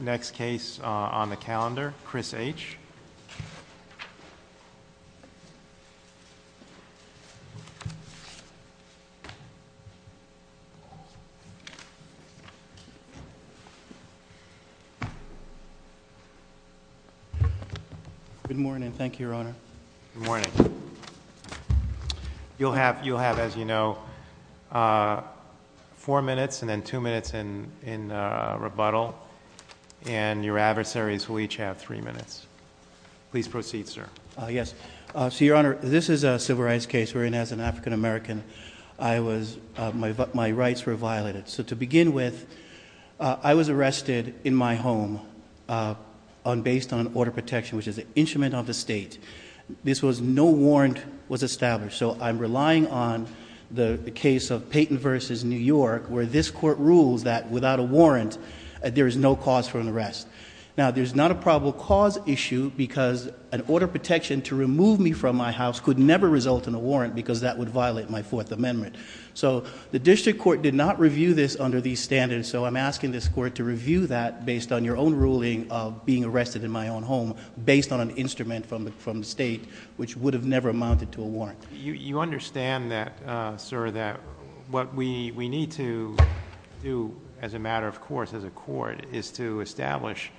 Next case on the calendar, Chris H. Good morning. Thank you, Your Honor. Good morning. You'll have, as you know, four minutes and then two minutes in rebuttal, and your adversaries will each have three minutes. Please proceed, sir. Yes. So, Your Honor, this is a civil rights case wherein, as an African American, my rights were violated. So to begin with, I was arrested in my home based on order of protection, which is an instrument of the state. No warrant was established, so I'm relying on the case of Payton v. New York, where this Court rules that without a warrant, there is no cause for an arrest. Now, there's not a probable cause issue because an order of protection to remove me from my house could never result in a warrant because that would violate my Fourth Amendment. So the District Court did not review this under these standards, so I'm asking this Court to review that based on your own ruling of being arrested in my own home based on an instrument from the state, which would have never amounted to a warrant. You understand that, sir, that what we need to do as a matter of course, as a Court, is to establish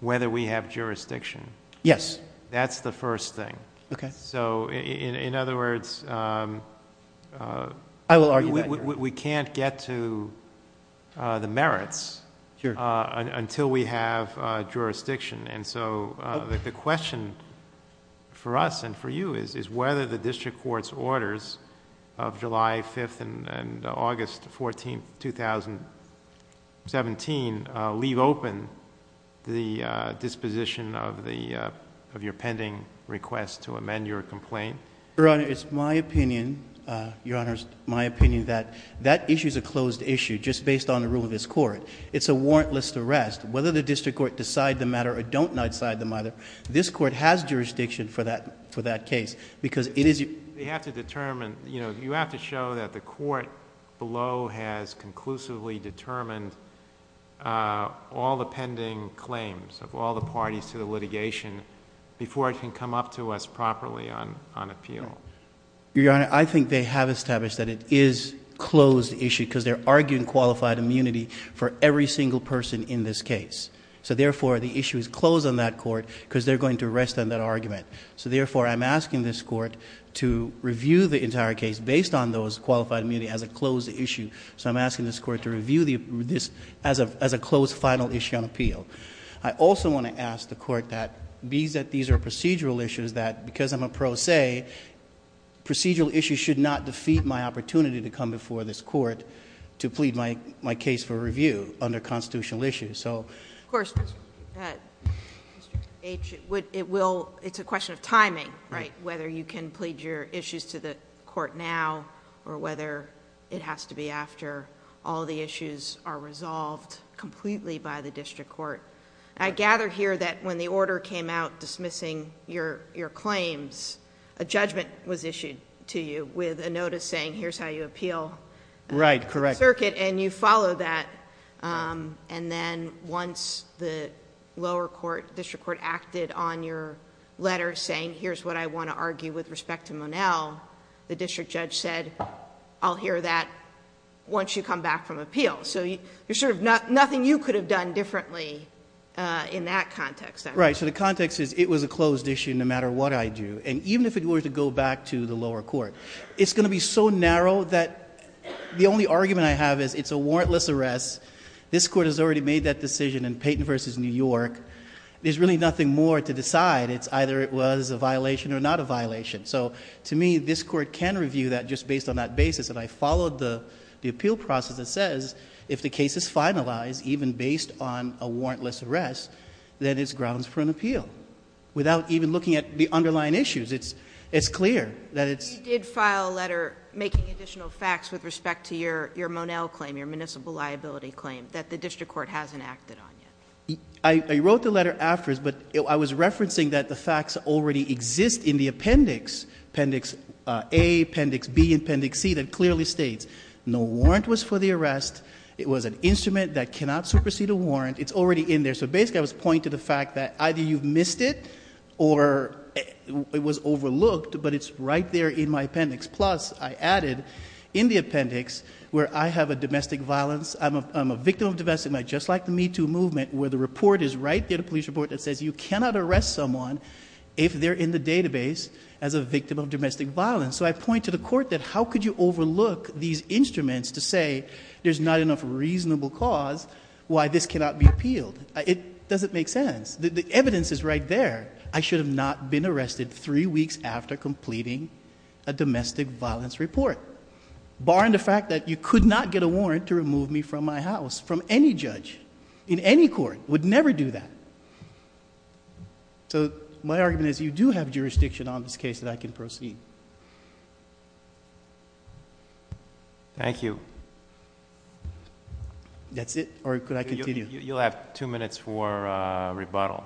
whether we have jurisdiction. Yes. That's the first thing. Okay. So in other words... I will argue that, Your Honor.... we can't get to the merits until we have jurisdiction, and so the question for us and for you is whether the District Court's orders of July 5th and August 14th, 2017 leave open the disposition of your pending request to amend your complaint. Your Honor, it's my opinion, Your Honor, it's my opinion that that issue's a closed issue just based on the rule of this Court. It's a warrantless arrest. Whether the District Court decide the matter or don't decide the matter, this Court has jurisdiction for that case because it is... You have to determine, you know, you have to show that the Court below has conclusively determined all the pending claims of all the parties to the litigation before it can come up to us properly on appeal. Your Honor, I think they have established that it is a closed issue because they're arguing qualified immunity for every single person in this case. So therefore, the issue is closed on that Court because they're going to arrest on that argument. So therefore, I'm asking this Court to review the entire case based on those qualified immunity as a closed issue. So I'm asking this Court to review this as a closed final issue on appeal. I also want to ask the Court that, being that these are procedural issues, that because I'm a pro se, procedural issues should not defeat my opportunity to come before this Court to plead my case for review under constitutional issues. So... Of course, Mr. H., it will... it's a question of timing, right, whether you can plead your issues to the Court now or whether it has to be after all the issues are resolved completely by the district court. I gather here that when the order came out dismissing your claims, a judgment was issued to you with a notice saying, here's how you appeal... Correct.... the circuit, and you follow that, and then once the lower court, district court acted on your letter saying, here's what I want to argue with respect to Monell, the district judge said, I'll hear that once you come back from appeal. So, there's sort of nothing you could have done differently in that context. Right. So the context is, it was a closed issue no matter what I do, and even if it were to go back to the lower court, it's going to be so narrow that the only argument I have is, it's a warrantless arrest, this Court has already made that decision in Payton v. New York, there's really nothing more to decide, it's either it was a violation or not a violation. So to me, this Court can review that just based on that basis, and I followed the appeal process that says, if the case is finalized, even based on a warrantless arrest, then it's grounds for an appeal, without even looking at the underlying issues, it's clear that it's... You did file a letter making additional facts with respect to your Monell claim, your municipal liability claim, that the district court hasn't acted on yet. I wrote the letter afterwards, but I was referencing that the facts already exist in the appendix, appendix A, appendix B, and appendix C that clearly states, no warrant was for the arrest, it was an instrument that cannot supersede a warrant, it's already in there. So basically I was pointing to the fact that either you've missed it, or it was overlooked, but it's right there in my appendix. Plus, I added, in the appendix, where I have a domestic violence, I'm a victim of domestic violence, just like the Me Too movement, where the report is right there, the police report that says you cannot arrest someone if they're in the database as a victim of domestic violence. So I point to the court that how could you overlook these instruments to say there's not enough reasonable cause why this cannot be appealed? It doesn't make sense. The evidence is right there. I should have not been arrested three weeks after completing a domestic violence report, barring the fact that you could not get a warrant to remove me from my house, from any judge, in any court, would never do that. So my argument is you do have jurisdiction on this case that I can proceed. Thank you. That's it, or could I continue? You'll have two minutes for a rebuttal.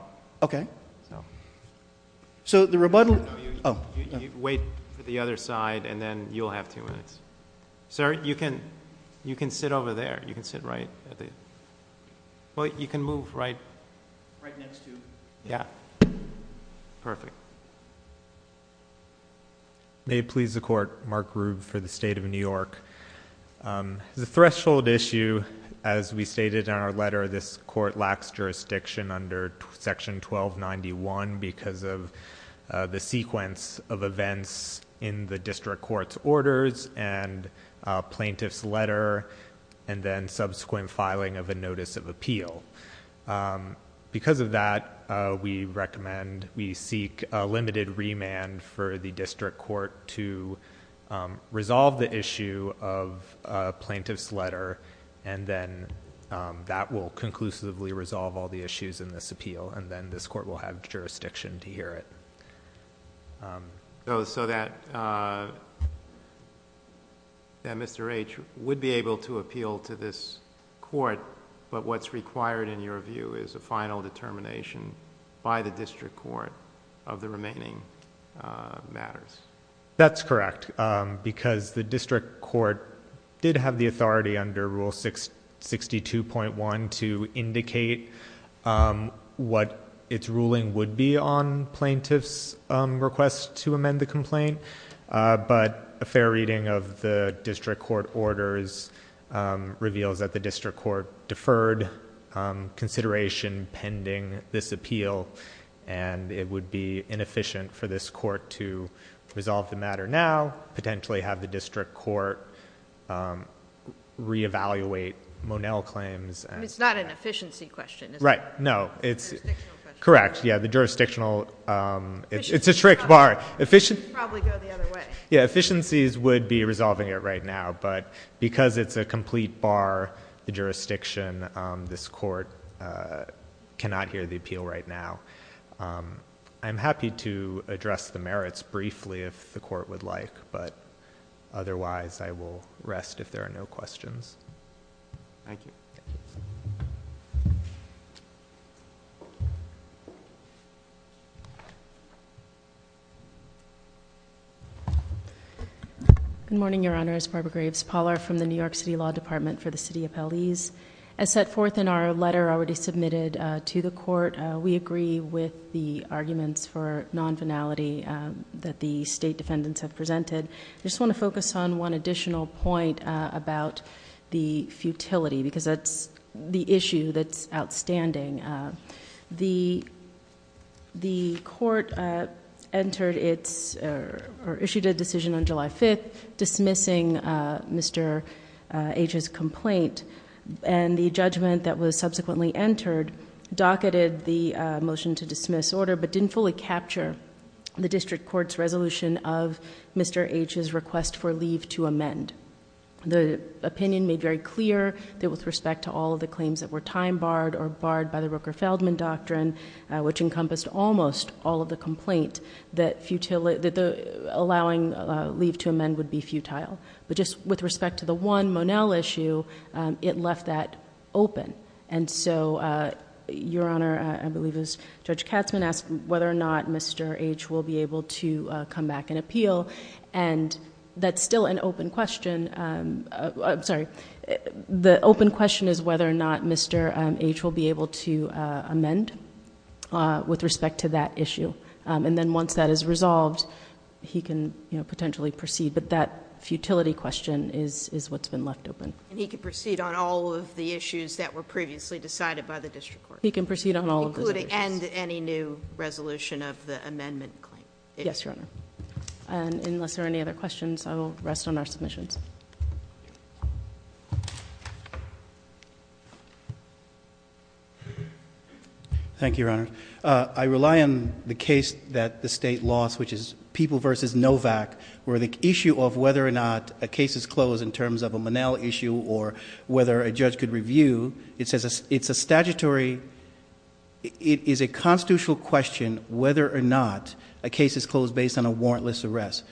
So the rebuttal... No, you wait for the other side, and then you'll have two minutes. Sir, you can sit over there. You can sit right at the... well, you can move right next to... Yeah. Perfect. May it please the Court, Mark Rube for the State of New York. The threshold issue, as we stated in our letter, this court lacks jurisdiction under Section 1291 because of the sequence of events in the district court's orders and plaintiff's letter, and then subsequent filing of a notice of appeal. Because of that, we seek a limited remand for the district court to resolve the issue of a plaintiff's letter, and then that will conclusively resolve all the issues in this appeal, and then this court will have jurisdiction to hear it. So that Mr. H. would be able to appeal to this court, but what's required in your view is a final determination by the district court of the remaining matters. That's correct, because the district court did have the authority under Rule 62.1 to indicate what its ruling would be on plaintiff's request to amend the complaint, but a fair reading of the district court orders reveals that the district court deferred consideration pending this appeal, and it would be inefficient for this court to resolve the matter now, potentially have the district court re-evaluate Monell claims...... It's not an efficiency question, is it? Right. No. It's... Jurisdictional question. Correct. Yeah, the jurisdictional... It's a trick bar. It should probably go the other way. Efficiencies would be resolving it right now, but because it's a complete bar, the jurisdiction, this court cannot hear the appeal right now. I'm happy to address the merits briefly if the court would like, but otherwise, I will rest if there are no questions. Thank you. Thank you. Good morning, Your Honors. Barbara Graves. Ms. Pollard from the New York City Law Department for the City Appellees. As set forth in our letter already submitted to the court, we agree with the arguments for non-finality that the state defendants have presented. I just want to focus on one additional point about the futility, because that's the issue that's outstanding. The court issued a decision on July 5th dismissing Mr. H's complaint, and the judgment that was subsequently entered docketed the motion to dismiss order, but didn't fully capture the district court's resolution of Mr. H's request for leave to amend. The opinion made very clear that with respect to all of the claims that were time barred or barred by the Rooker-Feldman doctrine, which encompassed almost all of the complaint that allowing leave to amend would be futile, but just with respect to the one Monell issue, it left that open, and so, Your Honor, I believe it was Judge Katzmann asked whether or not Mr. H will be able to come back and appeal, and that's still an open question. I'm sorry. The open question is whether or not Mr. H will be able to amend with respect to that issue, and then once that is resolved, he can potentially proceed, but that futility question is what's been left open. And he can proceed on all of the issues that were previously decided by the district court? He can proceed on all of those issues. Including any new resolution of the amendment claim? Yes, Your Honor. And unless there are any other questions, I will rest on our submissions. Thank you, Your Honor. I rely on the case that the State lost, which is People v. Novak, where the issue of whether or not a case is closed in terms of a Monell issue or whether a judge could review, it says it's a statutory, it is a constitutional question whether or not a case is closed based on a warrantless arrest.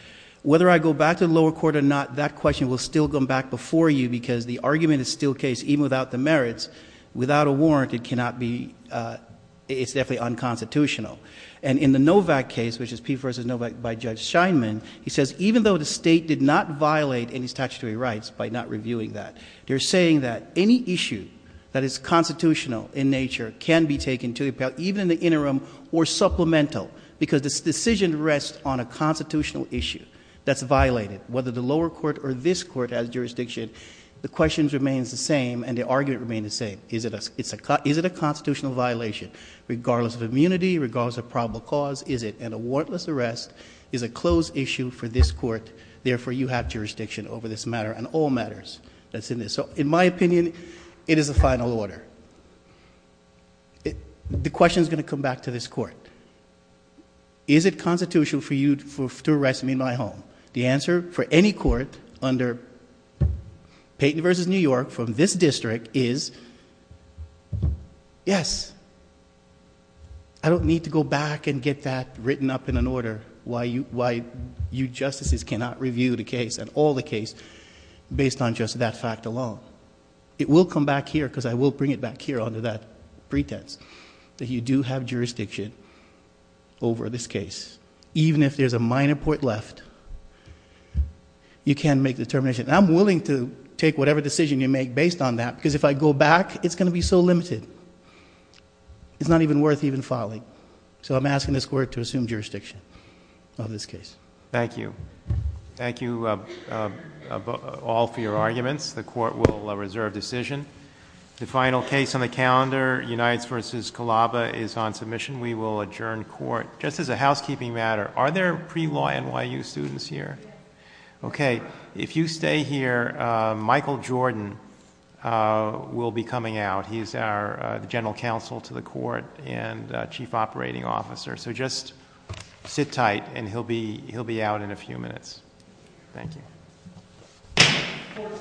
Whether I go back to the lower court or not, that question will still come back before you because the argument is still the case even without the merits. Without a warrant, it cannot be, it's definitely unconstitutional. And in the Novak case, which is People v. Novak by Judge Scheinman, he says even though the State did not violate any statutory rights by not reviewing that, they're saying that any issue that is constitutional in nature can be taken to the appeal, even in the interim or supplemental because this decision rests on a constitutional issue that's violated. Whether the lower court or this court has jurisdiction, the question remains the same and the argument remains the same. Is it a constitutional violation regardless of immunity, regardless of probable cause? Is it an warrantless arrest? Is a closed issue for this court, therefore you have jurisdiction over this matter and all matters that's in this. So in my opinion, it is a final order. The question is going to come back to this court. Is it constitutional for you to arrest me in my home? The answer for any court under Payton v. New York from this district is yes. I don't need to go back and get that written up in an order why you justices cannot review the case and all the case based on just that fact alone. It will come back here because I will bring it back here under that pretense that you do have jurisdiction over this case. Even if there's a minor point left, you can make the determination. I'm willing to take whatever decision you make based on that because if I go back, it's going to be so limited. It's not even worth even filing. So I'm asking this court to assume jurisdiction on this case. Thank you. Thank you all for your arguments. The court will reserve decision. The final case on the calendar, Unites v. Calaba is on submission. We will adjourn court. Just as a housekeeping matter, are there pre-law NYU students here? Okay. If you stay here, Michael Jordan will be coming out. He's our general counsel to the court and chief operating officer. So just sit tight and he'll be out in a few minutes. Thank you. Court is adjourned.